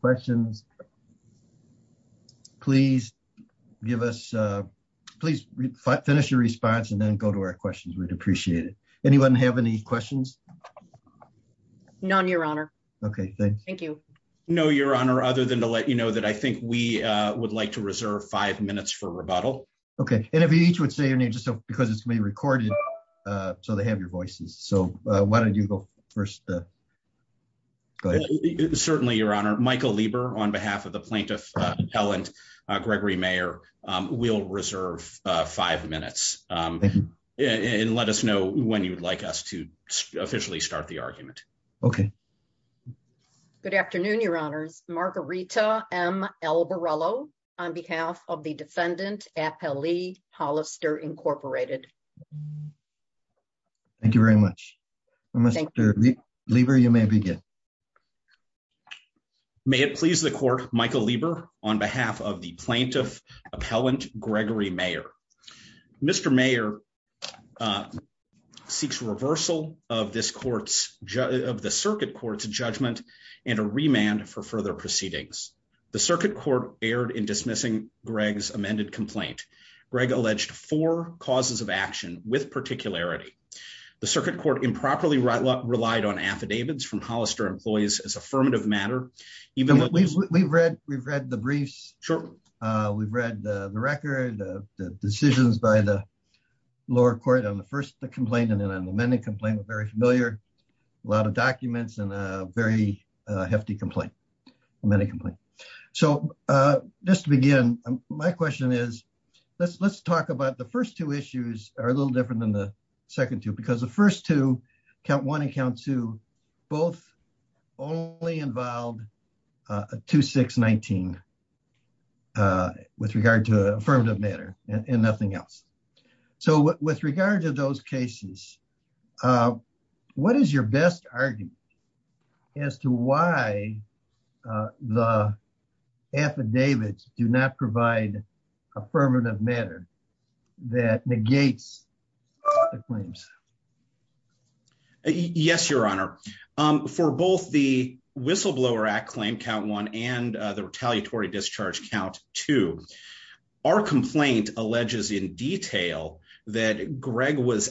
questions, please give us response and then go to o appreciate it. Anyone hav your honor. Okay, thank y other than to let you kno would like to reserve fiv Okay. And if you each wou because it's been recorde voices. So why don't you to go ahead. Certainly, y Lieber on behalf of the p Mayor. Um, we'll reserve let us know when you'd li start the argument. Okay. honors. Margarita M. Elbe of the defendant. Appelle Hollister, Incorporated. Mr Lieber, you may begin. Michael Lieber on behalf o Gregory Mayor. Mr Mayor, of this court's of the ci and a remand for further court aired in dismissing amended complaint. Greg a of action with particular improperly relied on affo employees as affirmative We've read the briefs. We the decisions by the lowe complaint and then an ame familiar, a lot of docume complaint, many complaints So, uh, just to begin, my let's talk about the firs little different than the the first two count one a involved, uh, 26 19 uh, w matter and nothing else. cases, uh, what is your b as to why the affidavits d matter that negates the c honor. Um, for both the Wi count one and the retaliat to our complaint alleges i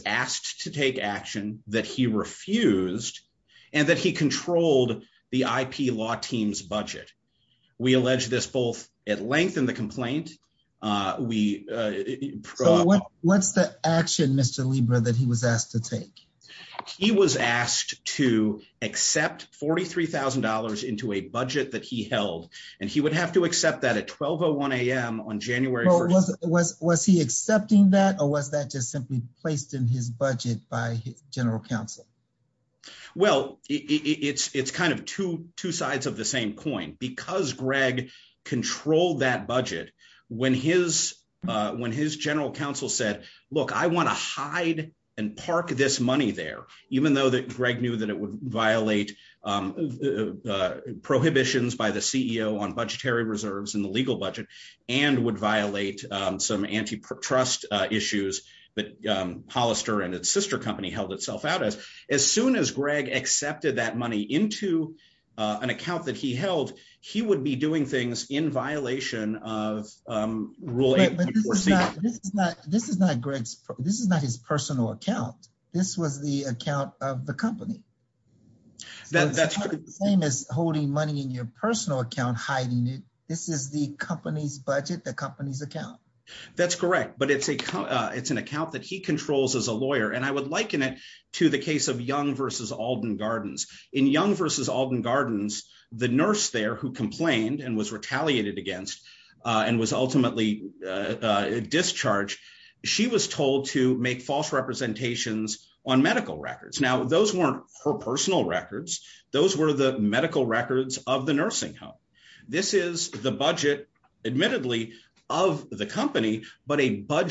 asked to take action that he controlled the IP law t this both at length in th uh, what, what's the acti he was asked to take. He $43,000 into a budget tha would have to accept that on January. Was he accept just simply placed in his council? Well, it's, it's of the same coin because budget when his, uh, when said, look, I want to hid would violate, um, uh, pr by the ceo on budgetary r budget and would violate issues that Hollister and held itself out. As, as s that money into an accoun would be doing things in But this is not, this is is not his personal accou account of the company. T as holding money in your hiding it. This is the co company's account. That's a, it's an account that h and I would liken it to t Alden Gardens in Young ve the nurse there who compl against and was ultimatel was told to make false rep records. Now, those weren records. Those were the m of the nursing home. This of the company, but a bud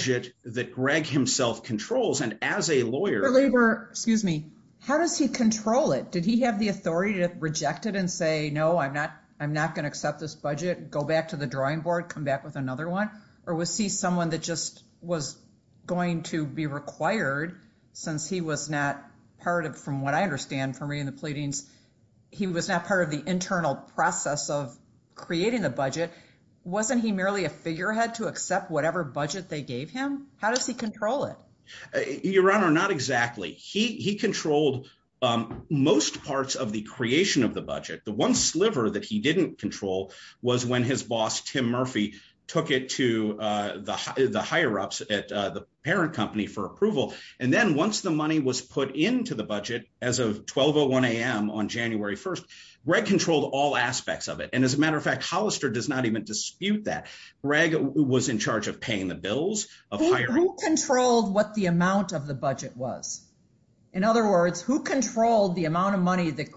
controls and as a lawyer, he control it? Did he hav and say, no, I'm not, I'm this budget, go back to t back with another one or that just was going to be was not part of, from wha the pleadings, he was not process of creating the b a figurehead to accept wh him? How does he control exactly. He, he controlled of the budget. The one sl control was when his boss it to the higher ups at t for approval. And then on into the budget as of 12 1st, Greg controlled all as a matter of fact, Holl dispute that Greg was in bills of hiring, controll of the budget was. In oth the amount of money that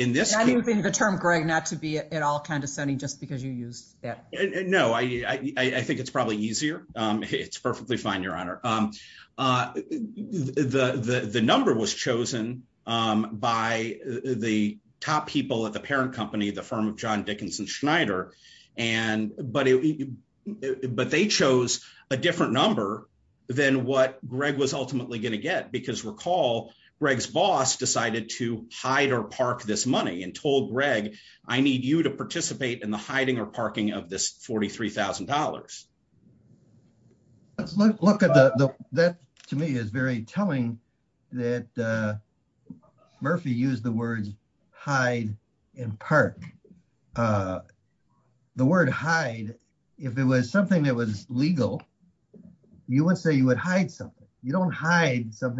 in this, I think the term at all condescending just that. No, I, I think it's fine, your honor. Um, uh, chosen by the top people the firm of john Dickinson it, but they chose a diff what Greg was ultimately recall Greg's boss decide money and told Greg, I ne in the hiding or parking let's look at the, that t that uh Murphy used the w Uh, the word hide if it w legal, you would say you You don't hide something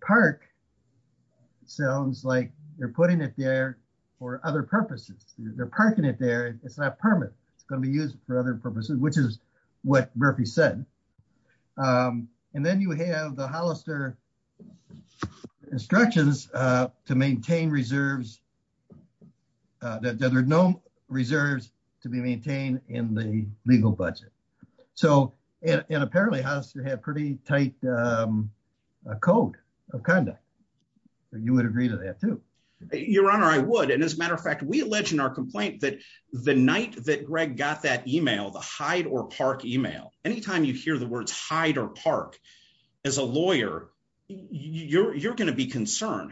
park sounds like they're for other purposes. They' It's not permanent. It's is what Murphy said. Um, Hollister instructions to Uh, there are no reserves in the legal budget. So a had pretty tight um, a co would agree to that too. as a matter of fact, we a the night that Greg got t or park email. Anytime yo or park as a lawyer, you'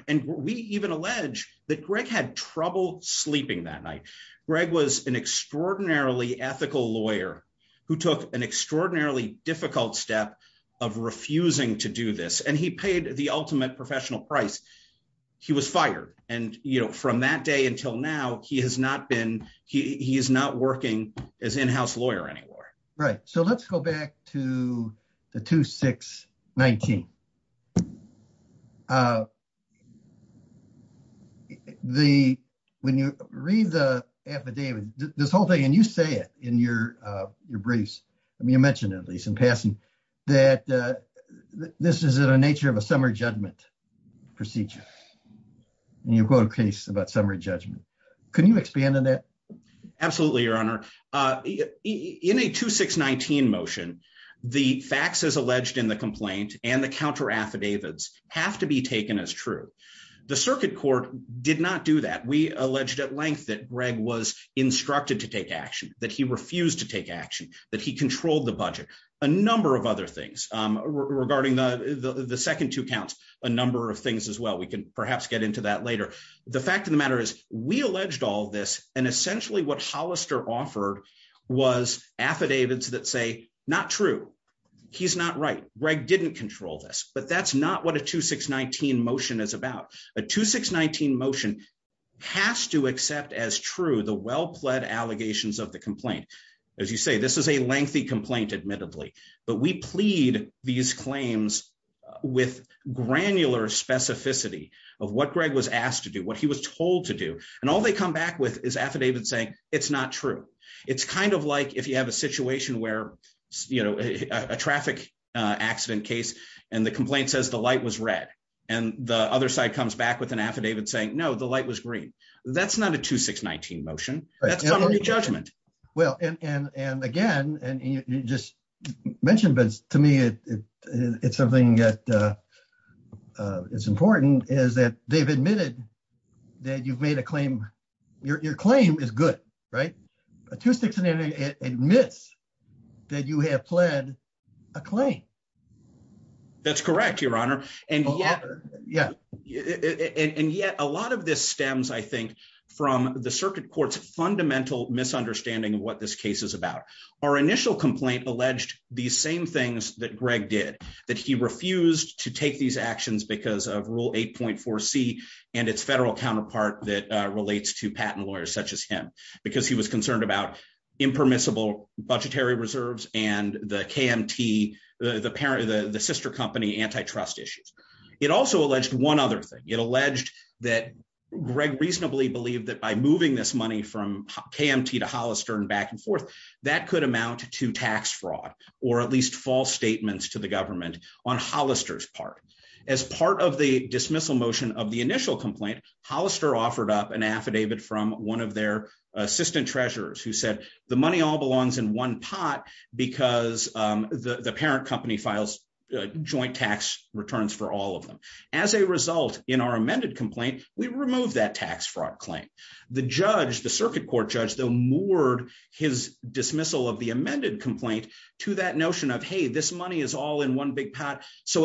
and we even allege that G that night. Greg was an e lawyer who took an extrao step of refusing to do th ultimate professional pri he was fired. And you kno now, he has not been, he' in house lawyer anymore. the affidavit, this whole in your, uh, your briefs. at least in passing that is it a nature of a summe You go to a case about su you expand on that? Absol in a 2 6 19 motion, the f the complaint and the cou to be taken as true. The do that. We alleged at le to take action, that he r that he controlled the bu other things regarding th a number of things as wel get into that later. The is we alleged all this an Hollister offered was aff not true. He's not right. this, but that's not what about. A 2 6 19 motion ha the well pled allegations complaint. As you say, th admittedly, but we plead granular specificity of w to do, what he was told t come back with is affidav true. It's kind of like i where, you know, a traffi the complaint says the li the other side comes back saying no, the light was a 2 6 19 motion. That's c Well, and and and again a but to me, it's something is that they've admitted claim. Your claim is good and it admits that you ha correct, your honor. And and yet a lot of this stem the circuit court's funda of what this case is abou alleged these same things he refused to take these 8.4 C and its federal cou to patent lawyers such as concerned about impermiss and the KMT, the parent o issues. It also alleged o alleged that greg reasona by moving this money from and back and forth that c fraud or at least false s on Hollister's part. As p motion of the initial com up an affidavit from one treasurers who said the m in one pot because the pa joint tax returns for all in our amended complaint, fraud claim. The judge, t though, moored his dismiss complaint to that notion is all in one big pot. So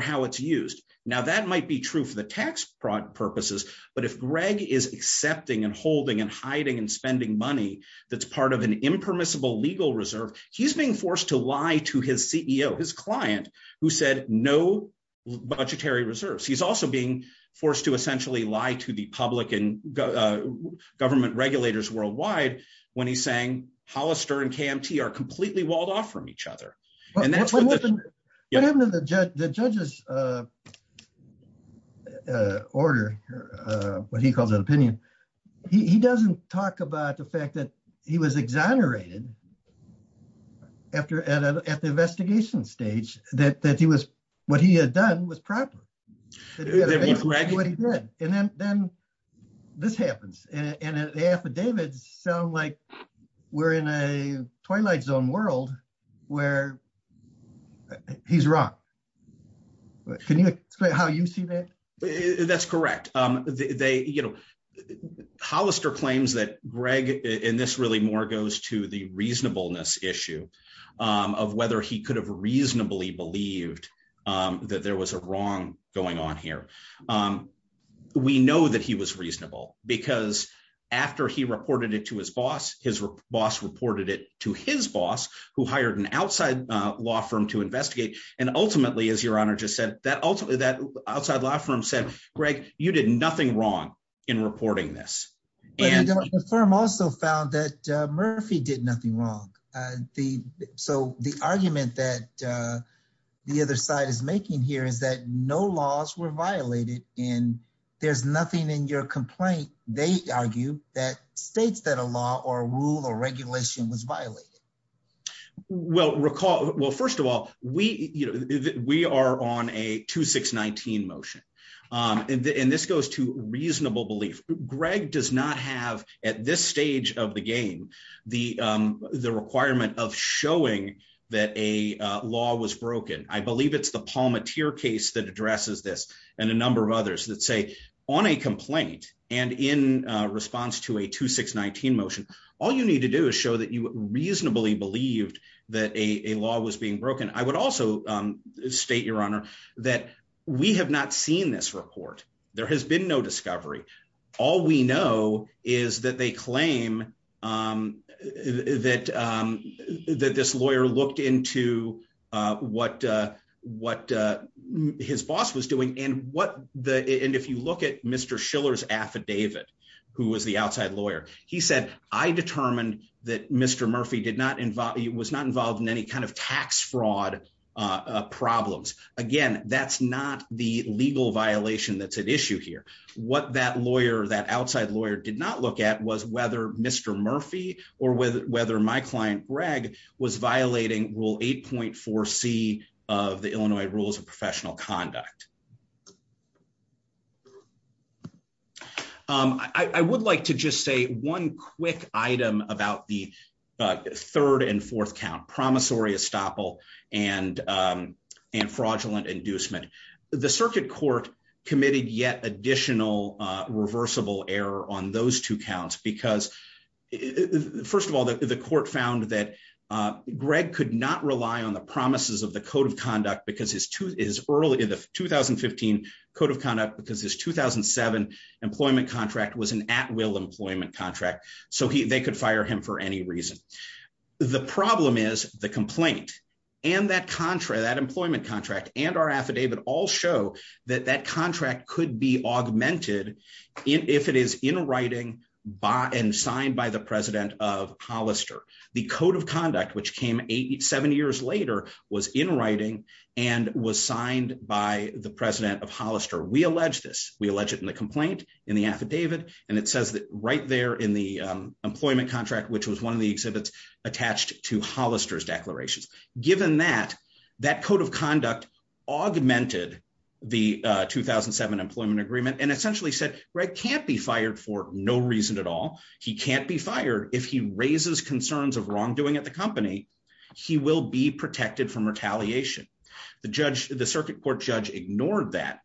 how it's used. Now, that tax fraud purposes. But i and holding and hiding an an impermissible legal re forced to lie to his ceo, no budgetary reserves. He to essentially lie to the regulators worldwide. Whe and KMT are completely wa and that's what happened uh, uh, order, uh, what h he doesn't talk about the exonerated after at the e that, that he was, what h that he did. And then, th and the affidavits sound zone world where he's wro how you see that? That's they, you know, Hollister this really more goes to issue of whether he could believed, um, that there on here. Um, we know that because after he reported his boss reported it to h an outside law firm to in as your honor just said t said, greg, you did nothi this. And the firm also f nothing wrong. Uh, the, s the other side is making were violated and there's They argue that states th regulation was violated. Well, recall, well, first are on a 2619 motion. Um, to reasonable belief. Gre this stage of the game, t of showing that a law was it's the Palmatier case t and a number of others th and in response to a 2619 you need to do is show th believed that a law was b also state your honor tha this report. There has be we know is that they clai lawyer looked into what, doing and what the and if Schiller's affidavit who He said, I determined tha not involved, was not inv tax fraud problems again. violation that's at issue that outside lawyer did n Mr Murphy or whether my c rule 8.4 C of the Illinois just say one quick item a fourth count, promissory inducement. The circuit c additional reversible err because first of all, the Greg could not rely on th code of conduct because h 2015 code of conduct beca employment contract was contract. So they could f The problem is the compla that employment contract all show that that contrac if it is in writing by an of Hollister. The code of 87 years later was in wri by the president of Holli We allege this. We allege in the affidavit and it s in the employment contrac the exhibits attached to Given that that code of c the 2007 employment agree said Greg can't be fired He can't be fired if he r wrongdoing at the company from retaliation. The jud judge ignored that.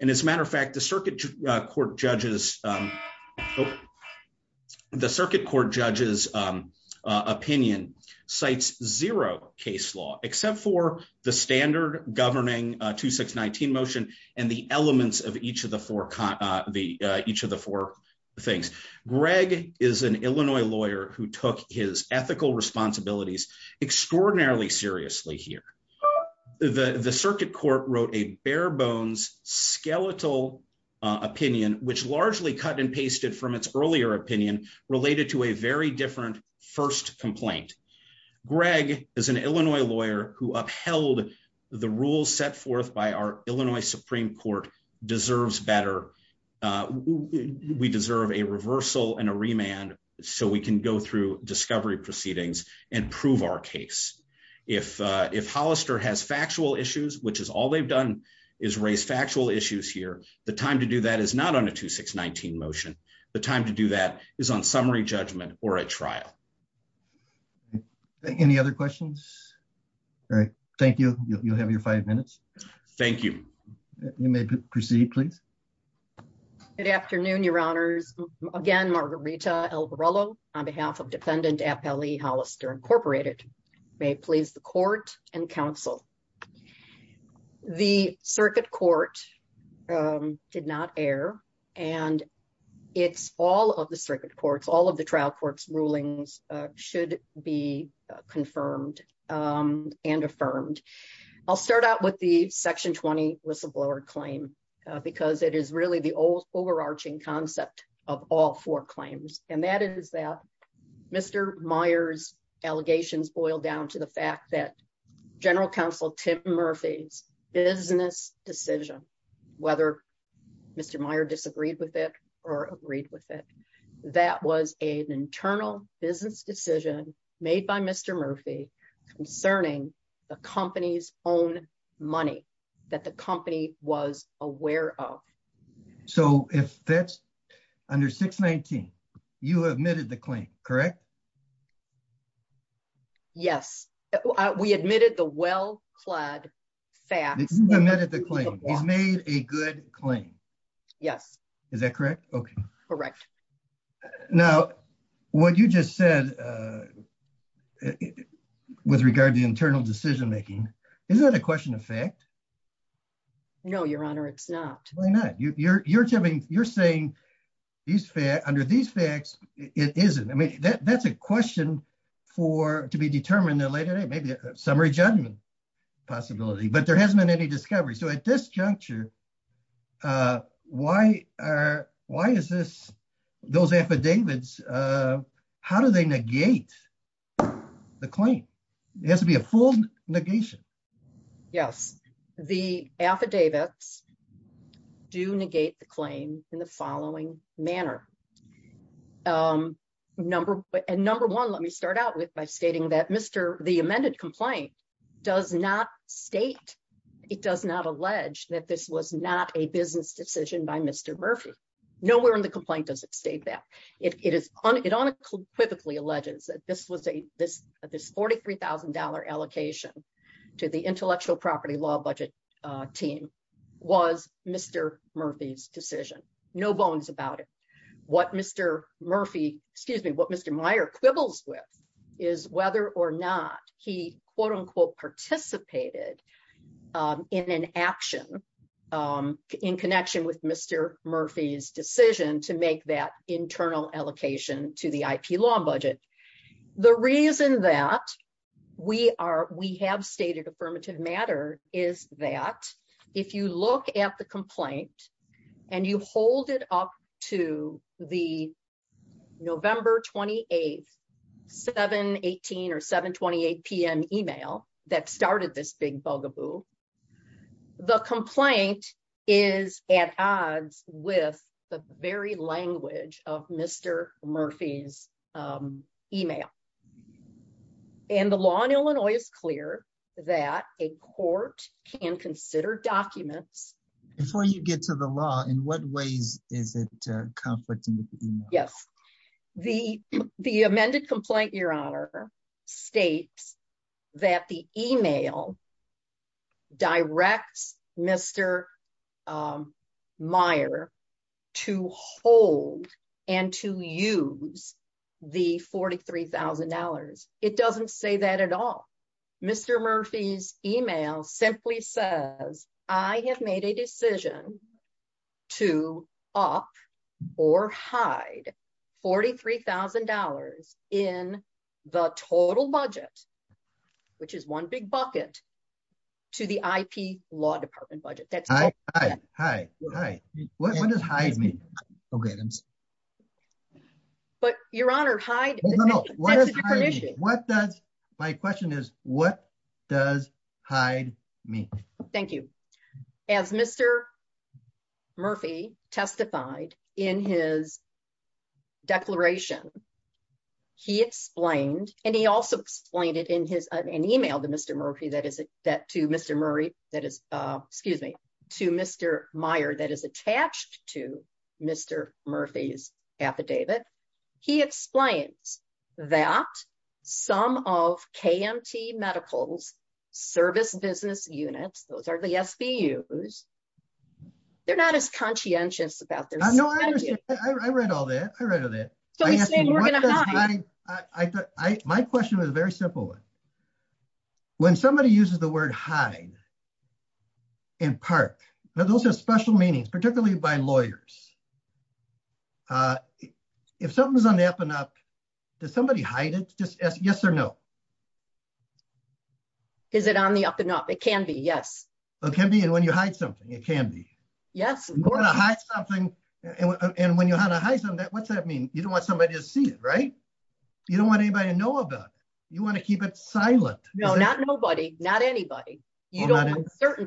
And i circuit court judges, um, judges opinion cites zero for the standard governin and the elements of each of the four things. Greg who took his ethical resp extraordinarily seriously court wrote a bare bones, which largely cut and pas opinion related to a very complaint. Greg is an Illa the rules set forth by ou deserves better. Uh, we d and a remand so we can go and prove our case. If, u issues, which is all they' issues here. The time to 2619 motion. The time to judgment or a trial. Any Thank you. You'll have yo you. You may proceed plea your honors again. Margar Alberto on behalf of Depe Incorporated may please t The circuit court, um, di all of the circuit courts rulings should be confirm start out with the sectio claim because it is reall overarching concept of al that is that Mr Meyer's a to the fact that General business decision, whethe with it or agreed with it business decision made by the company's own money t aware of. So if that's un the claim, correct? Yes. clad fax admitted the cla claim. Yes. Is that corre Now, what you just said w decision making. Is that not? Why not? You're you' saying these under these mean that that's a questi the later day. Maybe a su but there hasn't been any juncture. Uh, why are, wh affidavits? Uh, how do th claim? It has to be a ful The affidavits do negate manner. Um, number and nu out with by stating that complaint does not state. that this was not a busine Murphy. Nowhere in the co that it is. It unequivoca this was a this $43,000 a intellectual property law mr Murphy's decision. No mr Murphy, excuse me, wha with is whether or not he participated, um, in an a with Mr Murphy's decision allocation to the I. P. L The reason that we are, w matter is that if you loo and you hold it up to the 7 18 or 7 28 PM email tha bugaboo. The complaint is at odds with the very lan email. And the law in Ill a court can consider docu to the law in what ways i email? Yes. The amended c Meyer to hold and to use t doesn't say that at all. simply says I have made a hide $43,000 in the total That's right. Hi. Hi. Hi. Okay. But your honor, hi. What does? My question is me. Thank you. As Mr Murph in his declaration, he ex explained it in his email that is that to Mr Murray to Mr Meyer that is attac affidavit. He explains th medicals service business the S. B. U. S. They're n about their. No, I underst I read of it. So we're go I thought my question was somebody uses the word hi are special meanings, par Uh, if something's on the hide it? Just yes or no. It can be. Yes, it can be something. It can be. Yes And when you had a high so mean? You don't want some just see it, right? You d to know about. You want t No, not nobody, not anybo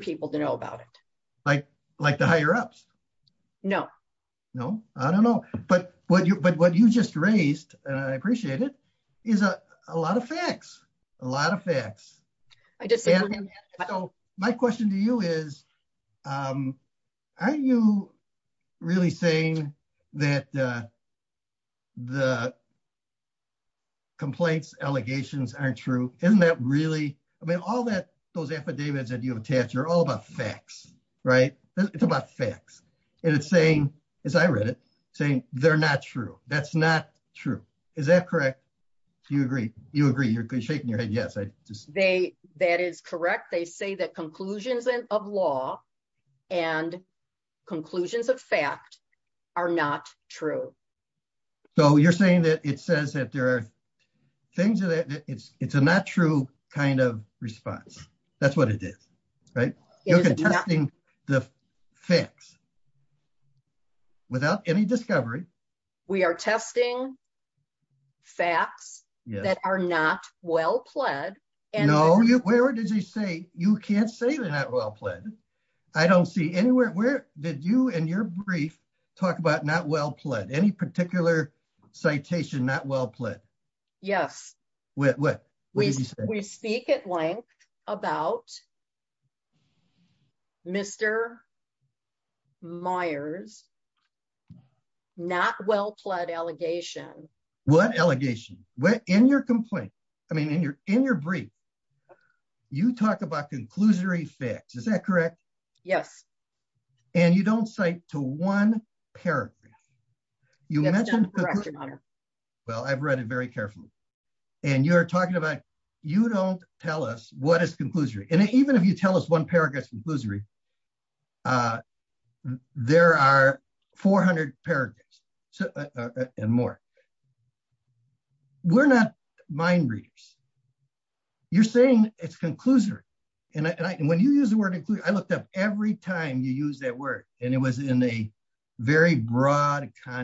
people to know about it l ups. No, no, I don't know of facts, a lot of facts. So my question to you is, saying that the complaints true? Isn't that really? affidavits that you have a facts, right? It's about as I read it saying they'r not true. Is that correct agree? You're shaking you they, that is correct. Th of law and conclusions of So you're saying that it things that it's it's a n That's what it is, right? the facts without any dis We are testing facts that and no, where did you say not well pled. I don't se you and your brief talk a Any particular citation n what we speak at length a Mr Myers, not well pled e What in your complaint? I brief you talk about conc that correct? Yes. And yo paragraph. You mentioned it very carefully and you don't tell us what is conc And even if you tell us o Uh, there are 400 paragraphs We're not mind readers. Y conclusory. And when you I looked up every time yo it was in a very broad co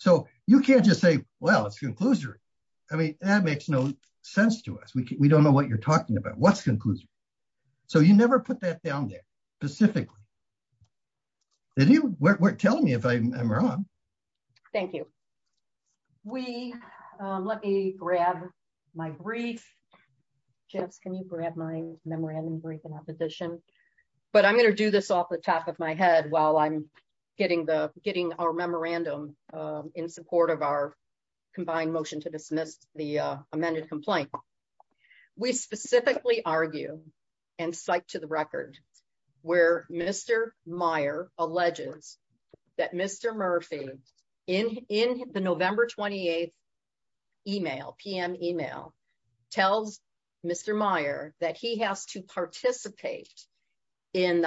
just say, well, it's conc makes no sense to us. We I don't know what you're What's conclusive. So you there specifically. Did y if I am wrong. Thank you. my brief. Just can you gr brief in opposition? But off the top of my head wh our memorandum in support combined motion to dismiss We specifically argue and where Mr Meyer alleges th in the November 28 email, Meyer that he has to parti and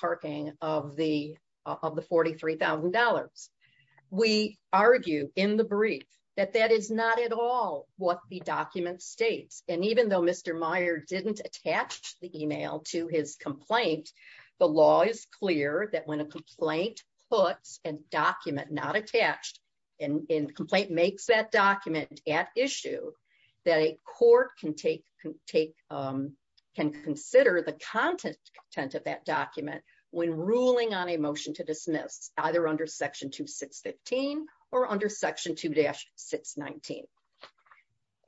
parking of the of the We argue in the brief tha what the document states. Meyer didn't attach the e The law is clear that whe and document not attached that document at issue th can take, um, can consider that document when rulin to dismiss either under s under section 2-6 19.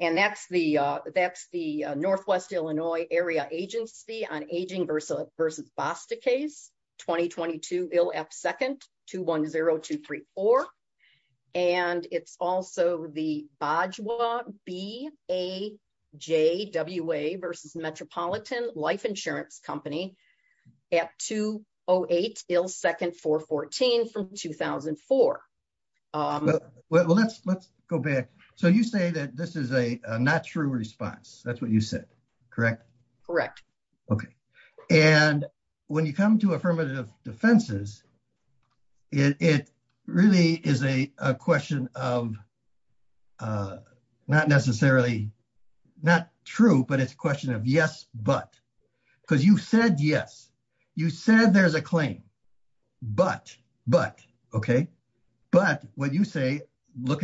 And the Northwest Illinois Ar versa versus Boston case to 10234. And it's also t a J. W. A. Versus Metropo insurance company at 208 2004. Um, well, let's, le say that this is a not tr what you said. Correct. C you come to affirmative d is a question of, uh, not necessarily not true, but yes, but because you've s a claim, but, but okay, b at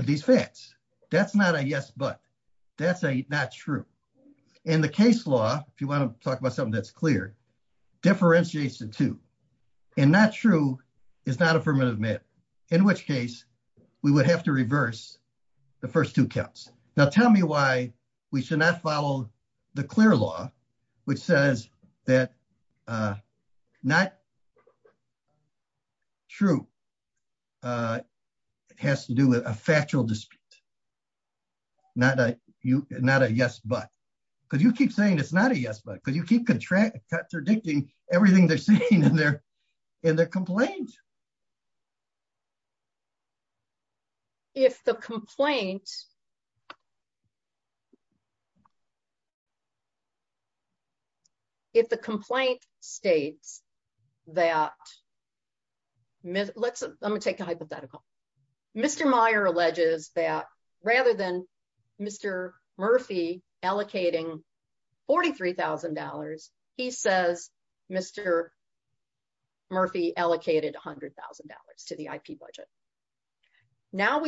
these facts, that's no a not true in the case la about something that's cl to and not true. It's not in which case we would ha the first two counts. Now not follow the clear law, not true. Uh, it has to d dispute. Not a, not a yes saying it's not a yes, bu contract contradicting ev they're saying in their, If the complaint, if the that let's, let me take a Meyer alleges that rather murphy allocating $43,000. allocated $100,000 to the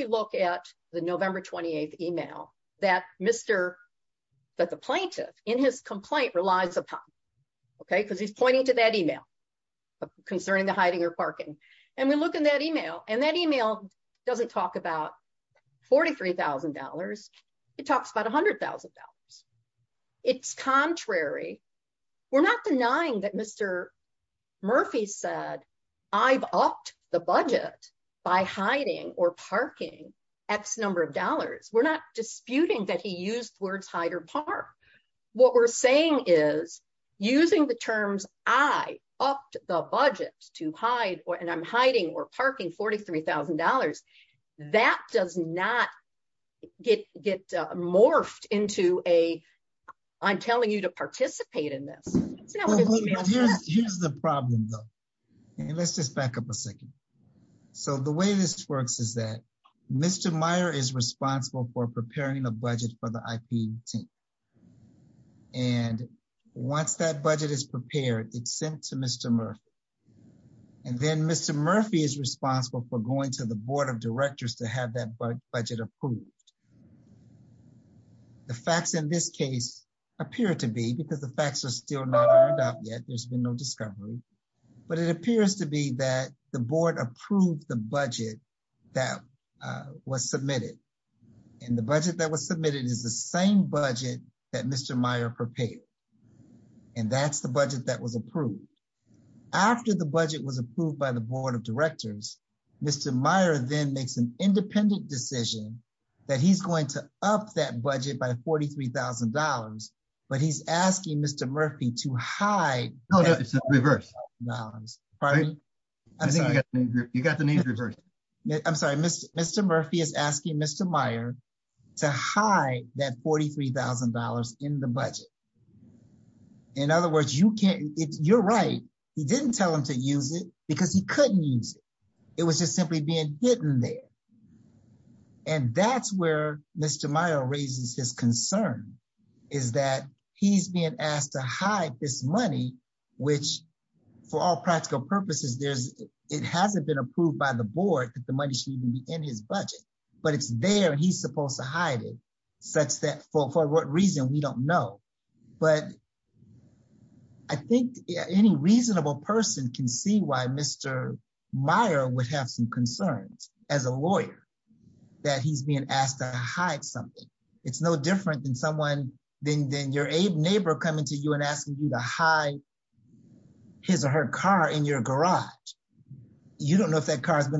look at the november 28th plaintiff in his complain because he's pointing to the hiding or parking. An email and that email doesn $43,000. It talks about $100 It's contrary. We're not d Murphy said I've upped th or parking X number of do that he used words hide o saying is using the terms to hide and I'm hiding or $43,000. That does not ge a, I'm telling you to par now. Here's the problem t back up a second. So the that Mr Meyer is responsi a budget for the I. P. T. is prepared, it's sent to murphy. And then Mr Murph for going to the board of that budget approved. The appear to be because the out yet. There's been no appears to be that the bo that was submitted and th submitted is the same bud Mr Meyer prepared and that was approved after the bu the board of directors. M an independent decision t that budget by $43,000. B to hide. No, no, it's reve I think you got the name Mr Mr Murphy is asking Mr $43,000 in the budget. In you're right. He didn't t because he couldn't use i being hidden there. And t raises his concern is that to hide this money, which purposes, there's, it has the board that the money in his budget, but it's t to hide it such that for don't know. But I think a can see why Mr Meyer would as a lawyer that he's bei something. It's no differ than your neighbor coming you to hide his or her ca garage. You don't know if in a crime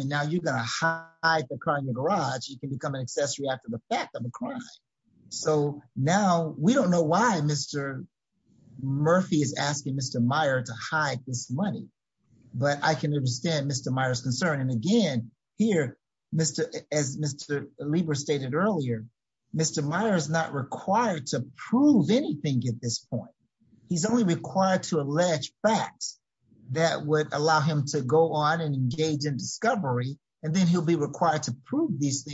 and now you're in the garage, you can be after the fact of a crime why Mr Murphy is asking M money. But I can understa And again, here, Mr, as M earlier, Mr Meyer is not anything at this point. H to allege facts that woul on and engage in discover be required to prove thes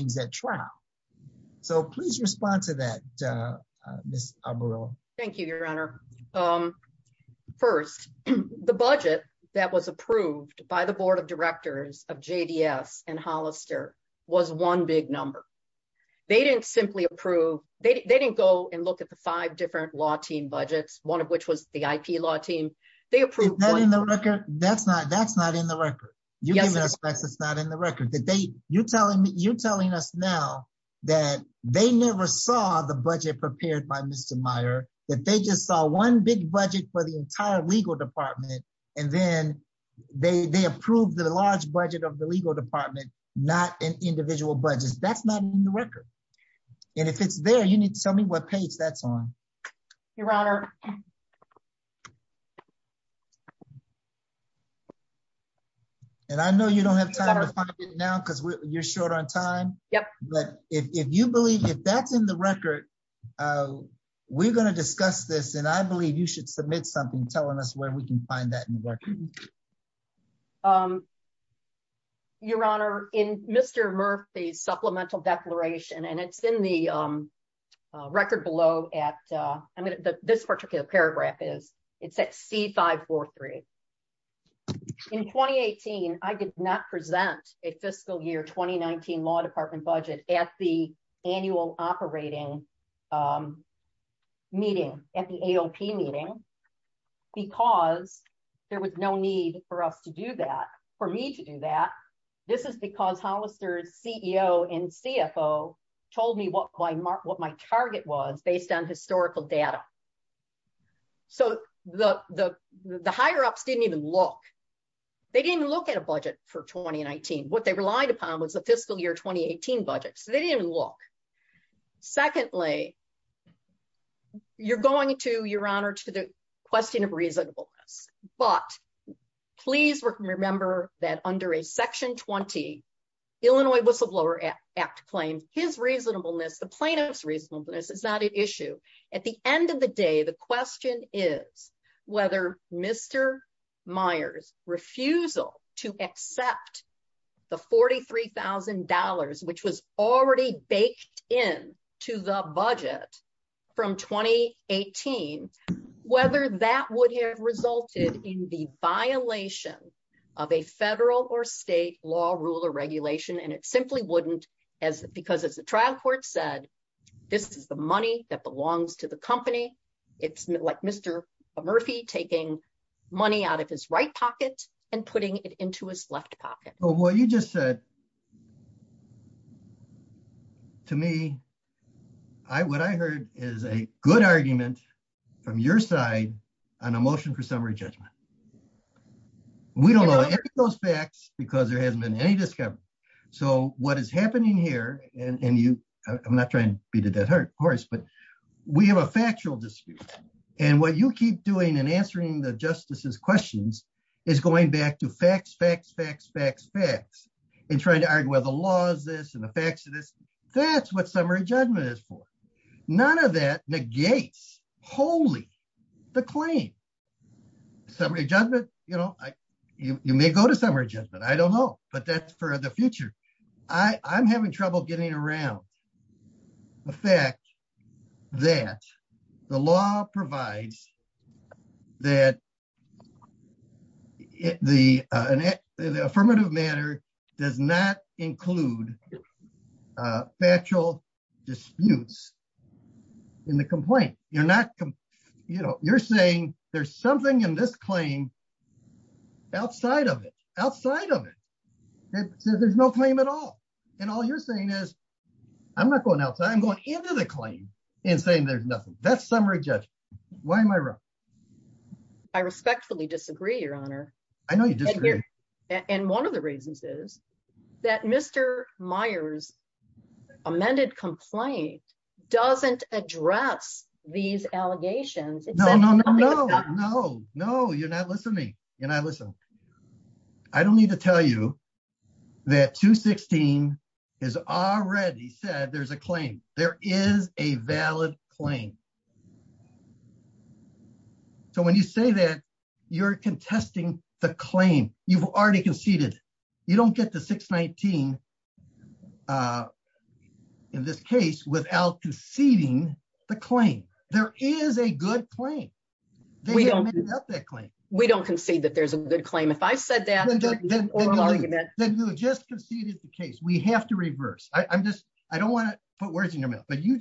please respond to that. U your honor. Um, first, t approved by the board of Hollister was one big num approve. They didn't go a different law team budget was the I. P. Law team. T That's not, that's not in aspects. It's not in the telling me, you're tellin never saw the budget prep that they just saw one bi legal department and then the large budget of the l an individual budgets. Th record. And if it's there me what page that's on. Y know, you don't have time you're short on time. But that's in the record, uh, this and I believe you sh telling us where we can f Um, your honor in Mr Murph and it's in the record be particular paragraph is i I did not present a fiscal budget at the annual oper at the A. O. P. Meeting b no need for us to do that for me to do that. This i ceo and CFO told me what was based on historical d ups didn't even look, the for 2019. What they relia year 2018 budget. So they you're going to your hono of reasonableness. But pl that under a section 20 Il Act claim his reasonablen reasonableness is not an i of the day. The question refusal to accept the $43 already baked in to the b 2018 whether that would h violation of a federal or and it simply wouldn't as court said, this is the m the company. It's like Mr out of his right pocket a his left pocket. Well, yo that to me, I, what I hea from your side on a motio We don't know any of thos hasn't been any discovera here and you, I'm not try course, but we have a fac what you keep doing and a questions is going back t facts and trying to argue and the facts of this. Th is for. None of that nega summary judgment. You kno summary judgment. I don't future. I'm having troubl manner does not include u in the complaint. You're saying there's something of it outside of it. It s at all. And all you're sa outside. I'm going into t there's nothing. That's s am I wrong? I respectfull your honor. I know you di the reasons is that Mr. M doesn't address these all no, no, no, no, no, you'r not listen. I don't need to 16 has already said th is a valid claim. So when you're contesting the cla conceded, you don't get t case without conceding th a good claim. We don't, w concede that there's a go that, then you just conce have to reverse. I'm just words in your mouth. But you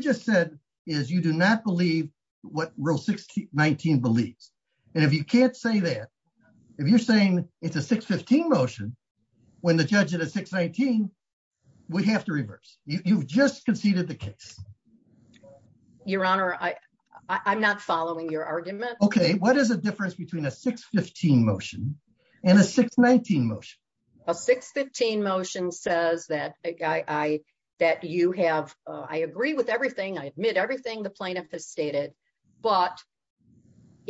just said is you do n what real 16 19 believes. that, if you're saying it the judge at a 6 19, we h just conceded the case. Y not following your argume a difference between a 6 motion? A 6 15 motion say have, I agree with everyt the plaintiff has stated,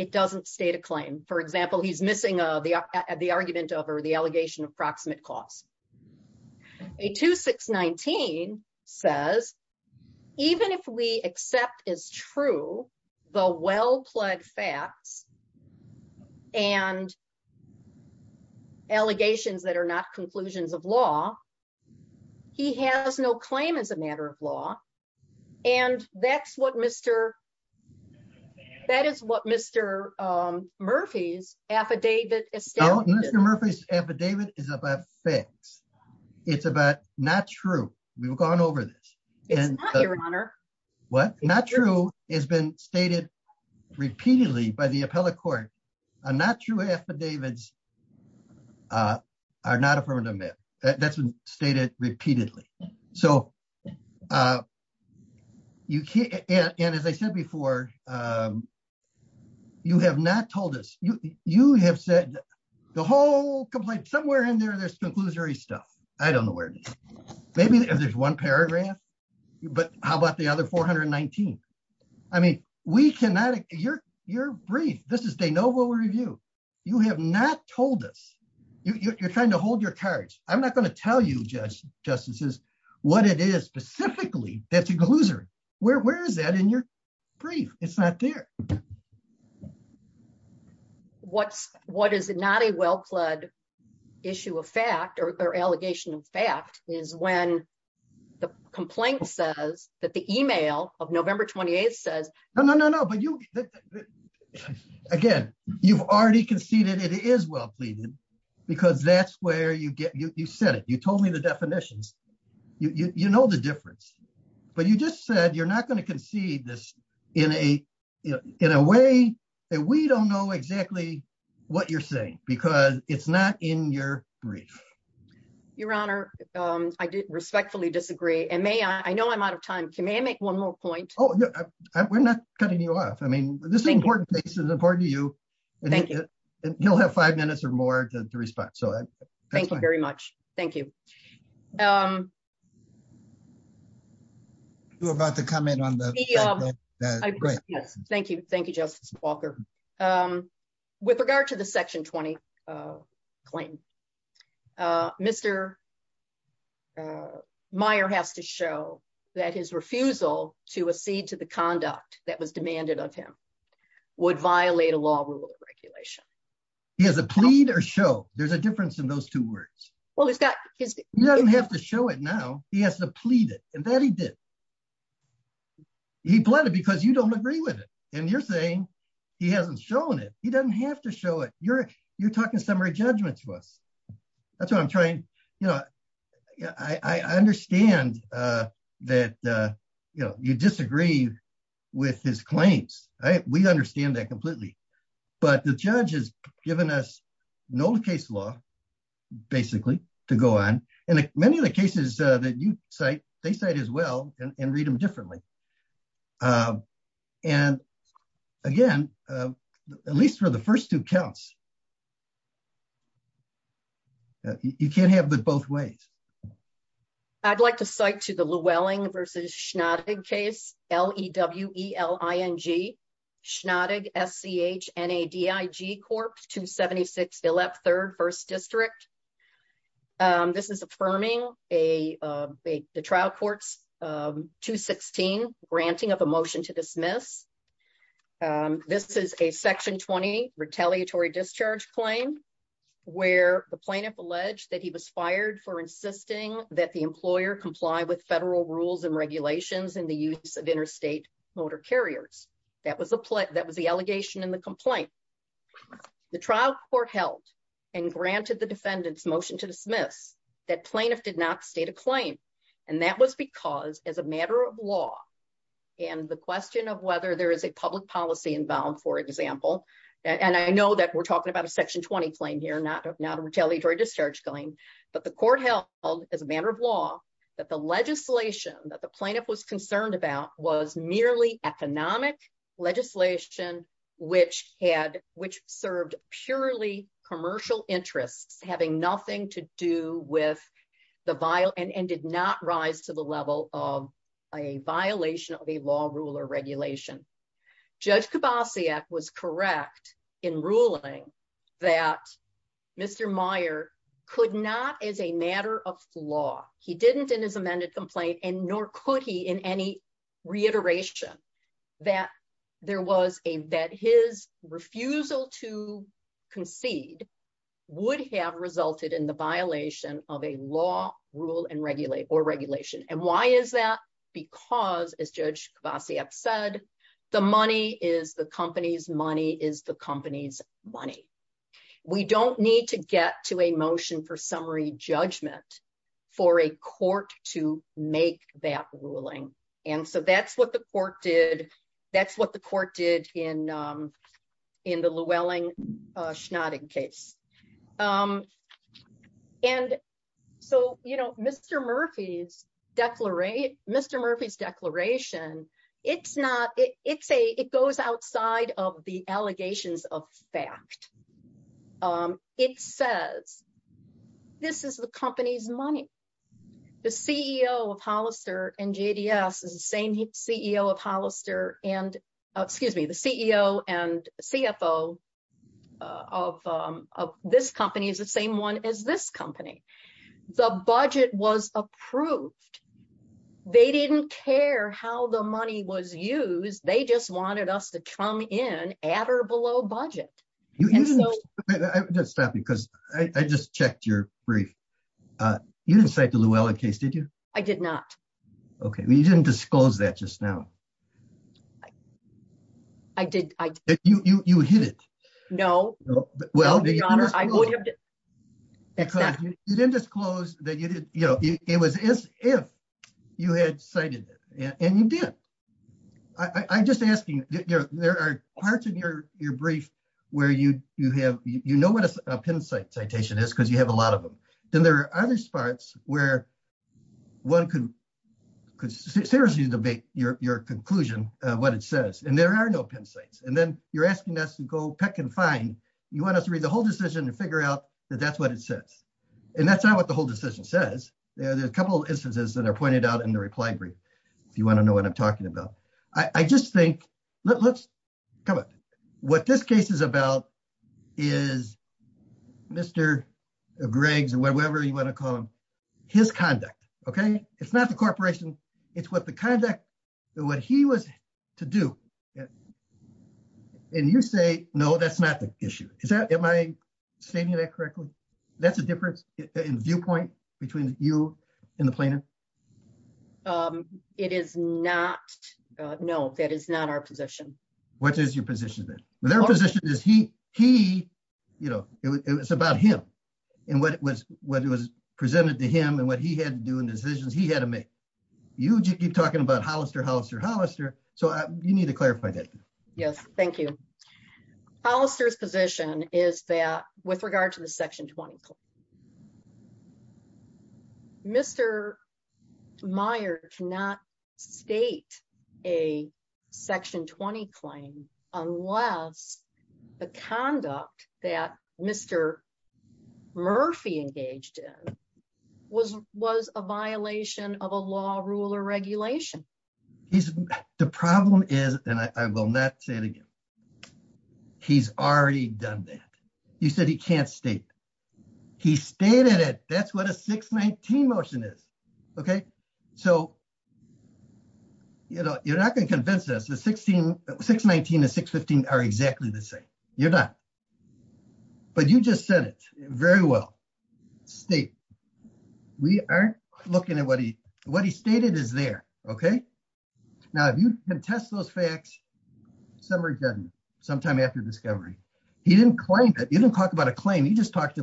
a claim. For example, he' the argument over the all cost. A 26 19 says, even is true, the well pled fac that are not conclusions of law. He has no claim a and that's what Mr, that Murphy's affidavit. Mr. M is about facts. It's abou gone over this. What? Not repeatedly by the appella affidavits, uh, are not af been stated repeatedly. S as I said before, um, you you, you have said the wh in there, there's conclus know where it is. Maybe i But how about the other 4 I mean, we cannot, you're is de novo review. You hav trying to hold your cards you just justices. What i that's a loser. Where, wha It's not there. What's, w well pled issue of fact o fact is when the complain email of November 28th sa but you, again, you've al is well pleaded because t said it. You told me the know the difference, but not going to concede this we don't know exactly wha it's not in your brief. Y disagree and may I know I may I make one more point you off. I mean, this is important to you. Thank y or more to respond. So th Thank you. Um, you're abo the, um, yes, thank you. Walker. Um, with regard t 2020. Uh, Mr. Uh, Meyer h refusal to accede to the of him would violate a la He has a plea or show. Th those two words. Well, he have to show it now. He h that he did. He bled it b agree with it. And you're it. He doesn't have to sho summary judgment to us. T you know, I understand th you disagree with his cla that completely. But the an old case law basically of the cases that you cit as well and read them dif again, at least for the f you can't have the both w to cite to the Llewellyn L. E. W. E. L. I. N. G. S to 76 left 3rd 1st distric is affirming a, uh, the t granting of a motion to d a section 20 retaliatory the plaintiff alleged tha insisting that the employ rules and regulations in motor carriers. That was the allegation in the com court held and granted th to dismiss that plaintiff And that was because as a the question of whether t inbound, for example, and talking about a section 2 a retaliatory discharge c held as a matter of law t that the plaintiff was co economic legislation, whi served purely commercial to do with the vial and d of a violation of a law r Judge Kibasiak was correc Mr Meyer could not as a m in his amended complaint in any reiteration that t his refusal to concede wo in the violation of a law And why is that? Because said, the money is the co the company's money. We d a motion for summary judg to make that ruling. And the court did. That's wha in, um, in the Llewellyn And so, you know, Mr Murp declaration. It's not, it of the allegations of fac is the company's money. T and J. D. S. Is the same and excuse me, the ceo an company is the same one a budget was approved. They money was used. They just in at or below budget. I' I just checked your brief Llewellyn case. Did you? didn't disclose that just hit it. No. Well, the hon didn't disclose that you as if you had cited it an asking, there are parts o you, you have, you know w is because you have a lot Then there are other spa could could seriously deb what it says. And there a then you're asking us to want us to read the whole out that that's what it s what the whole decision s instances that are pointe brief. If you want to kno about. I just think let's this case is about is Mr. you want to call him his not the corporation, it's what he was to do. And yo not the issue. Is that am That's a difference in vi you in the planet. Um it that is not our position. that their position is he it's about him and what i to him and what he had to he had to make. You keep Hollister Hollister Holli to clarify that. Yes, tha position is that with reg a section 20 claim unless Mr Murphy engaged in was a law ruler regulation. H and I will not say it aga done that. You said he ca it. That's what a 6 19 mo So you know, you're not g the 16 6 19 to 6 15 are e not. But you just said it We aren't looking at what is there. Okay. Now, if y facts, some are done somet He didn't claim that you' a claim. He just talked a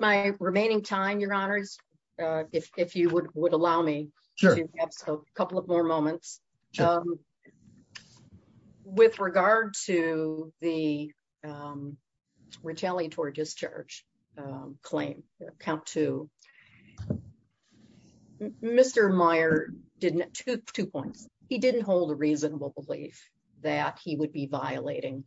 my remaining time, your h would allow me to have a Um, with regard to the, u discharge claim, count to two points. He didn't hol that he would be violating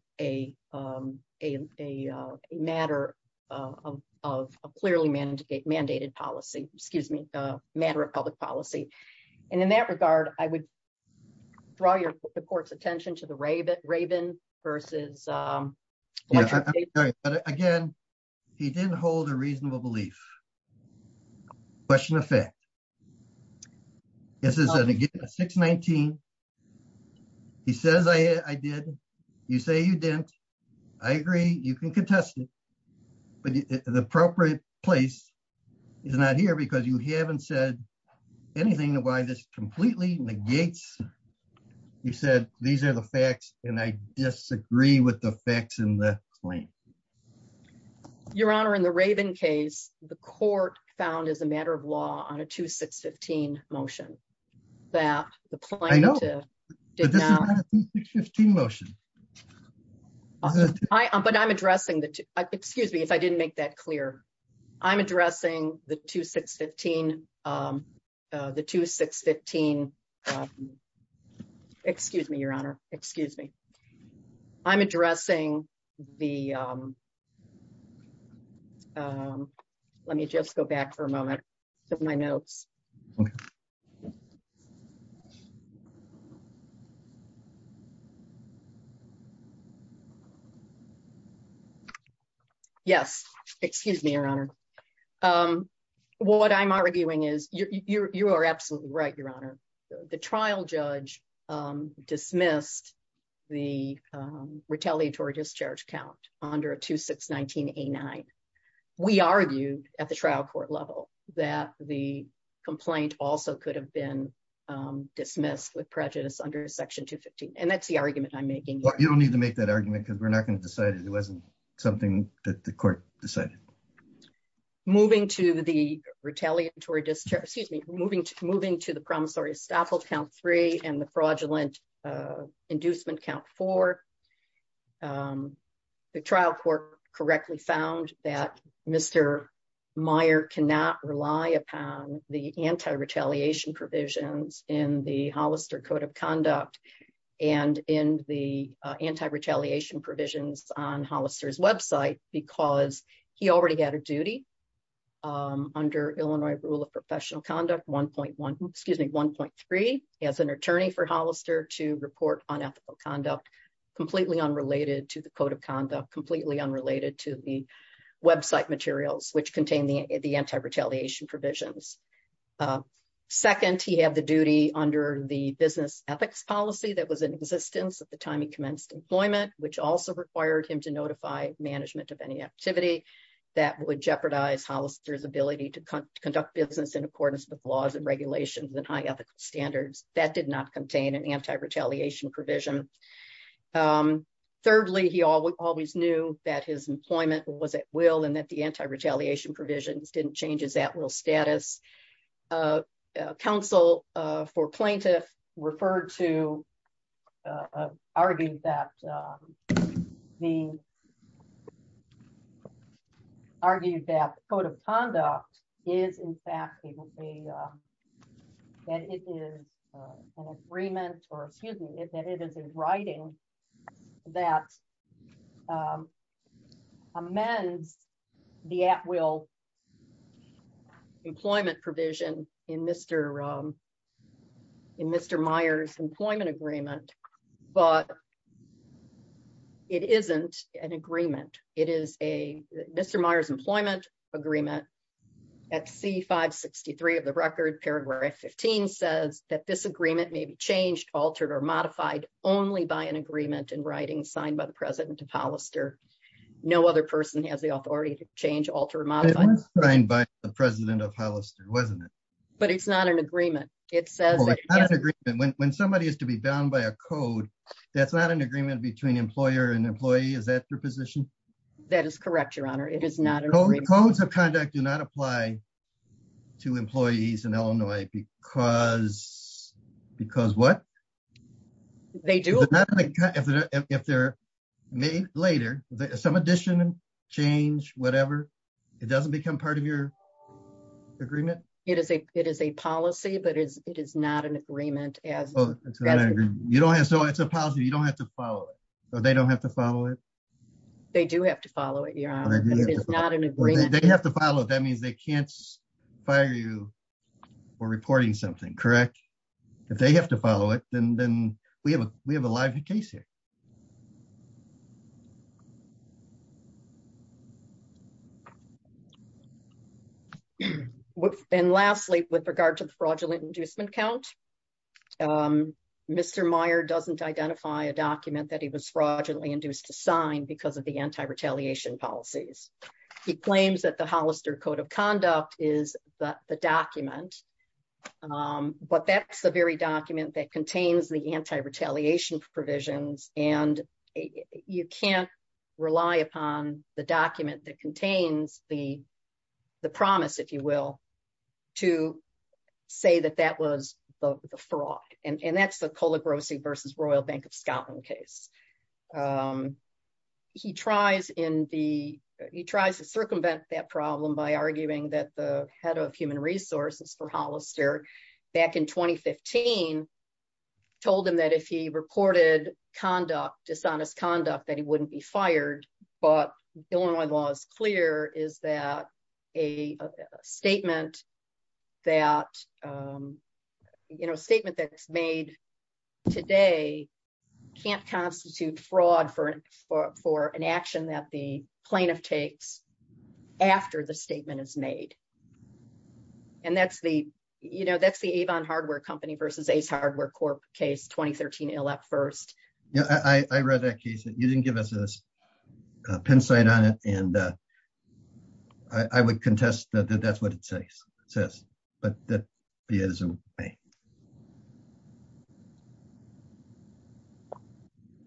mandated policy, excuse m policy. And in that regar the court's attention to Um, again, he didn't hold of a belief question of f 6 19. He says, I did. You you can contest it, but t is not here because you h why this completely negat are the facts and I disag the facts in the claim. Yo case, the court found as a 2 6 15 motion that the motion. I, but I'm addres if I didn't make that cle the 2 6 15. Um, the 2 6 1 Excuse me. I'm addressing go back for a moment. My your honor. Um, what I'm are absolutely right. You um, dismissed the retalia under a 2 6 19 89. We arg level that the complaint dismissed with prejudice And that's the argument I don't need to make that a not going to decide it. It that the court decided mo discharge, excuse me, mov the promissory estoppel c fraudulent, uh, inducemen trial court correctly fou cannot rely upon the anti in the Hollister code of the anti retaliation prov website because he alread duty. Um, under Illinois conduct 1.1 excuse me, 1. for Hollister to report o unrelated to the code of unrelated to the website the anti retaliation prov he had the duty under the that was in existence at employment, which also re management of any activi Hollister's ability to co in accordance with laws a high ethical standards th an anti retaliation provi he always knew that his e will and that the anti re didn't change his at will counsel for plaintiff ref that the argued that cod in fact, it will be, uh, or excuse me, that it is in Mr, um, in Mr Meyers' but it isn't an agreement employment agreement at C paragraph 15 says that th changed, altered or modif in writing, signed by the Hollister. No other perso to change, alter modified of Hollister, wasn't it? It says that when somebod a code, that's not an agr and employee. Is that you correct? Your honor. It i of conduct do not apply t because because what they if they're made later, so whatever, it doesn't beco It is a, it is a policy, agreement as you don't ha don't have to follow it. follow it. They do have t It is not an agreement. T That means they can't fir something. Correct. If th and lastly, with regard t inducement count. Um Mr M a document that he was fr to sign because of the an He claims that the Hollis is the document. Um but t that contains the anti re and you can't rely upon t the the promise if you wi that was the fraud. And t versus Royal Bank of Scot in the, he tries to circu by arguing that the head for Hollister back in 2015 that if he reported condu that he wouldn't be fired clear is that a statement statement that's made tod fraud for for for an acti takes after the statement the you know, that's the versus Ace Hardware Corp Yeah, I read that case th us a pin site on it and u that that's what it says. is a way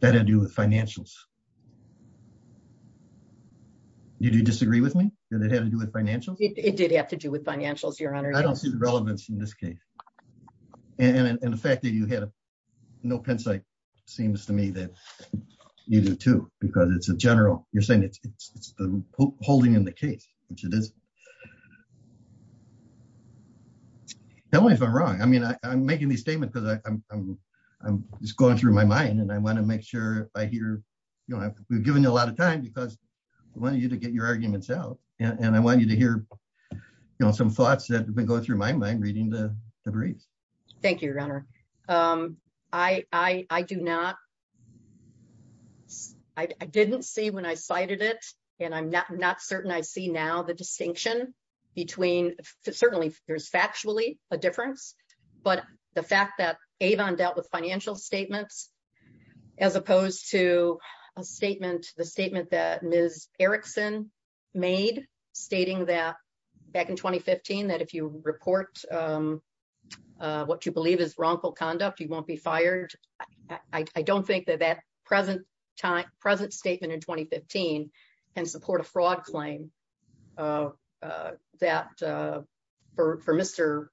that I do with f disagree with me? Did it It did have to do with fi I don't see the relevance and the fact that you had to me that you do too bec You're saying it's the ho it is. Tell me if I'm wro these statements because my mind and I want to mak know, we've given you a l you to get your argument I want you to hear some t go through my mind readin your honor. Um, I, I do n when I cited it and I'm n see now the distinction be there's factually a differ that Avon dealt with fina opposed to a statement, t Erickson made stating tha if you report, um, what y conduct, you won't be fir that that present time, p in 2015 and support a fra for Mr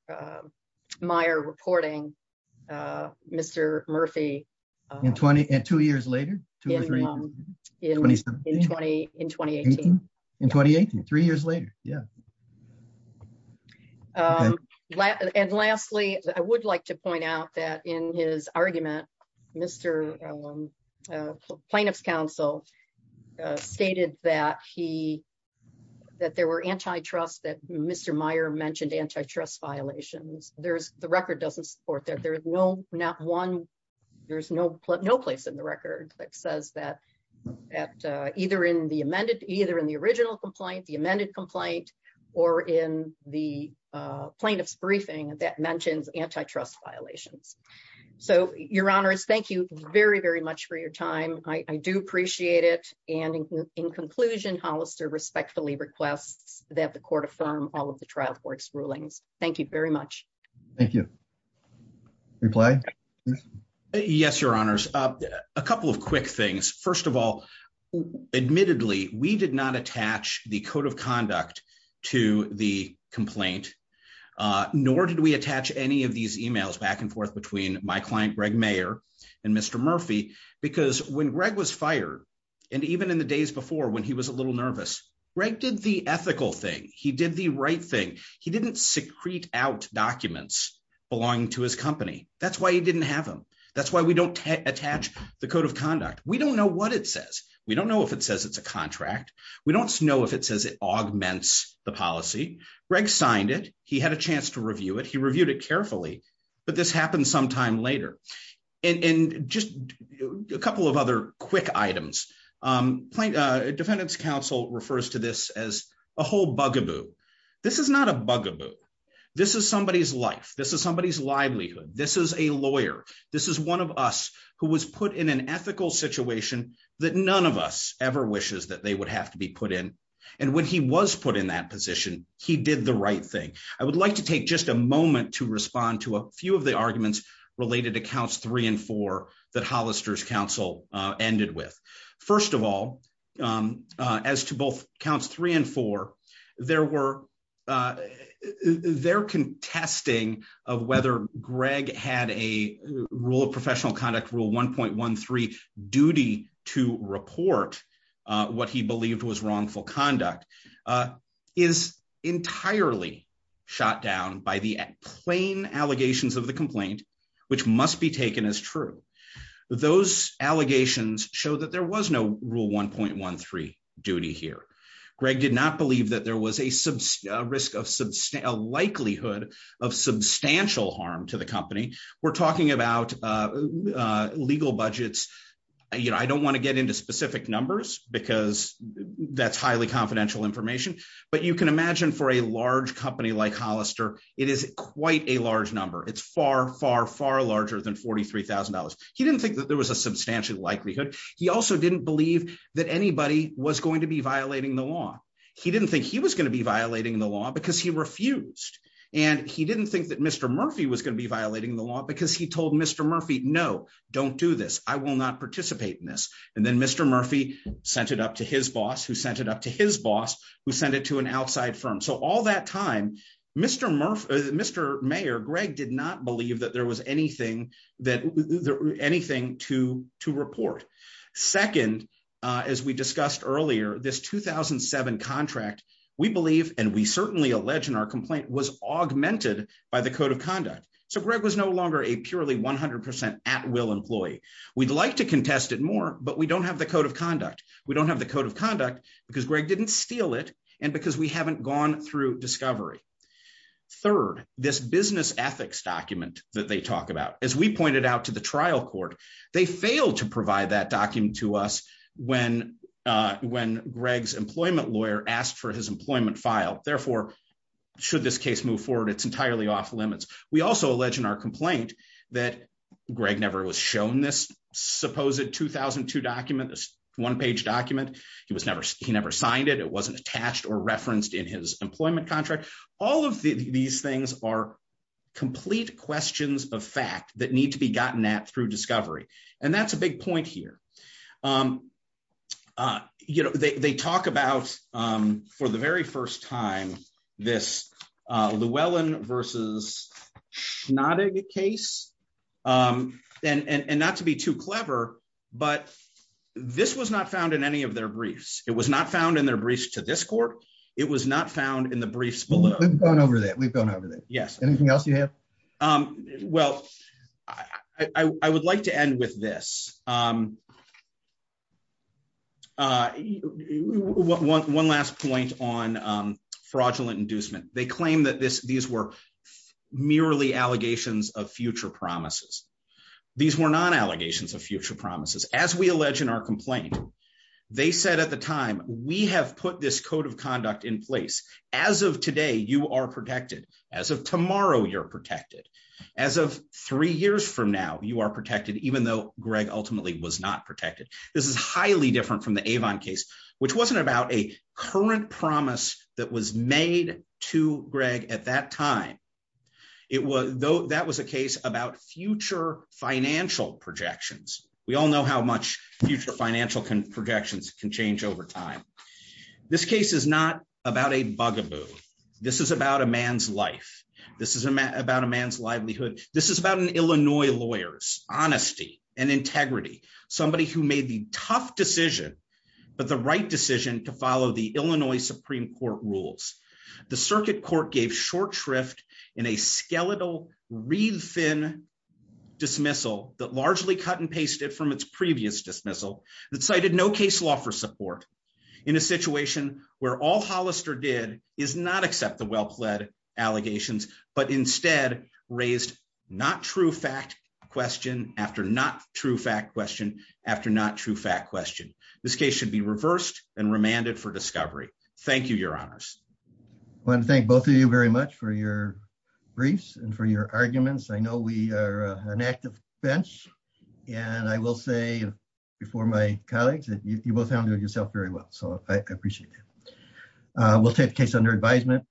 Meyer reporting, M 20 and two years later, 2 in 2018, three years late I would like to point out Mr, um, plaintiff's counc he, that there were anti Meyer mentioned antitrust the record doesn't support not one, there's no, no p that says that at either either in the original co complaint or in the plaint mentions antitrust violati thank you very, very much do appreciate it. And in respectfully requests tha all of the trial court's very much. Thank you repl honors. A couple of quick all, admittedly, we did n of conduct to the complai attach any of these email my client, Greg Mayer and when Greg was fired and e when he was a little nerv thing. He did the right t out documents belonging t why he didn't have him. T attach the code of conduc what it says. We don't kn a contract. We don't know the policy. Greg signed i to review it. He reviewed this happened sometime la of other quick items. Um Council refers to this as bugaboo. This is not a bu somebody's life. This is This is a lawyer. This is put in an ethical situati ever wishes that they wou in. And when he was put i did the right thing. I wo a moment to respond to a related to counts three a Council ended with. First Um, as to both counts thre were, uh, they're contest had a rule of professiona 13 duty to report what he conduct, uh, is entirely must be taken as true. Th that there was no rule 1. did not believe that there of a likelihood of substa company. We're talking ab You know, I don't want to numbers because that's hi information. But you can company like Hollister, i number. It's far, far, fa He didn't think that ther likelihood. He also didn' was going to be violating think he was going to be because he refused and he Mr Murphy was going to be because he told Mr Murphy this. I will not particip Mr Murphy sent it up to h it up to his boss who sen firm. So all that time, M Greg did not believe that that there was anything t to report. Second, as we 2007 contract, we believ allege in our complaint w the code of conduct. So G 100% at will employee. We more, but we don't have t We don't have the code of didn't steal it. And beca through discovery. Third, ethics document that they pointed out to the trial to provide that document employment lawyer asked f file. Therefore, should t It's entirely off limits. our complaint that Greg n supposed 2002 document, t He was never, he never si attached or referenced in All of these things are c of fact that need to be g discovery. And that's a b you know, they talk about time this Llewellyn versus not to be too clever, but in any of their briefs. I in their briefs to this c not found in the briefs b that we've gone over that you have? Um, well, I wou this. Um, uh, one last po inducement. They claim th allegations of future prom non allegations of future allege in our complaint, They said at the time we of conduct in place. As o As of tomorrow, you're pr years from now, you are p though Greg ultimately wa is highly different from wasn't about a current pr to Greg at that time. It a case about future finan We all know how much futu can change over time. Thi a bugaboo. This is about is about a man's livelihood Illinois lawyers, honesty who made the tough decisio to follow the Illinois Su The circuit court gave sh a skeletal read thin dism cut and pasted from its p that cited no case law fo where all Hollister did i well pled allegations but fact question after not t after not true fact quest be reversed and remanded you your honors. I want t for your briefs and for y we are an active bench an my colleagues that you bo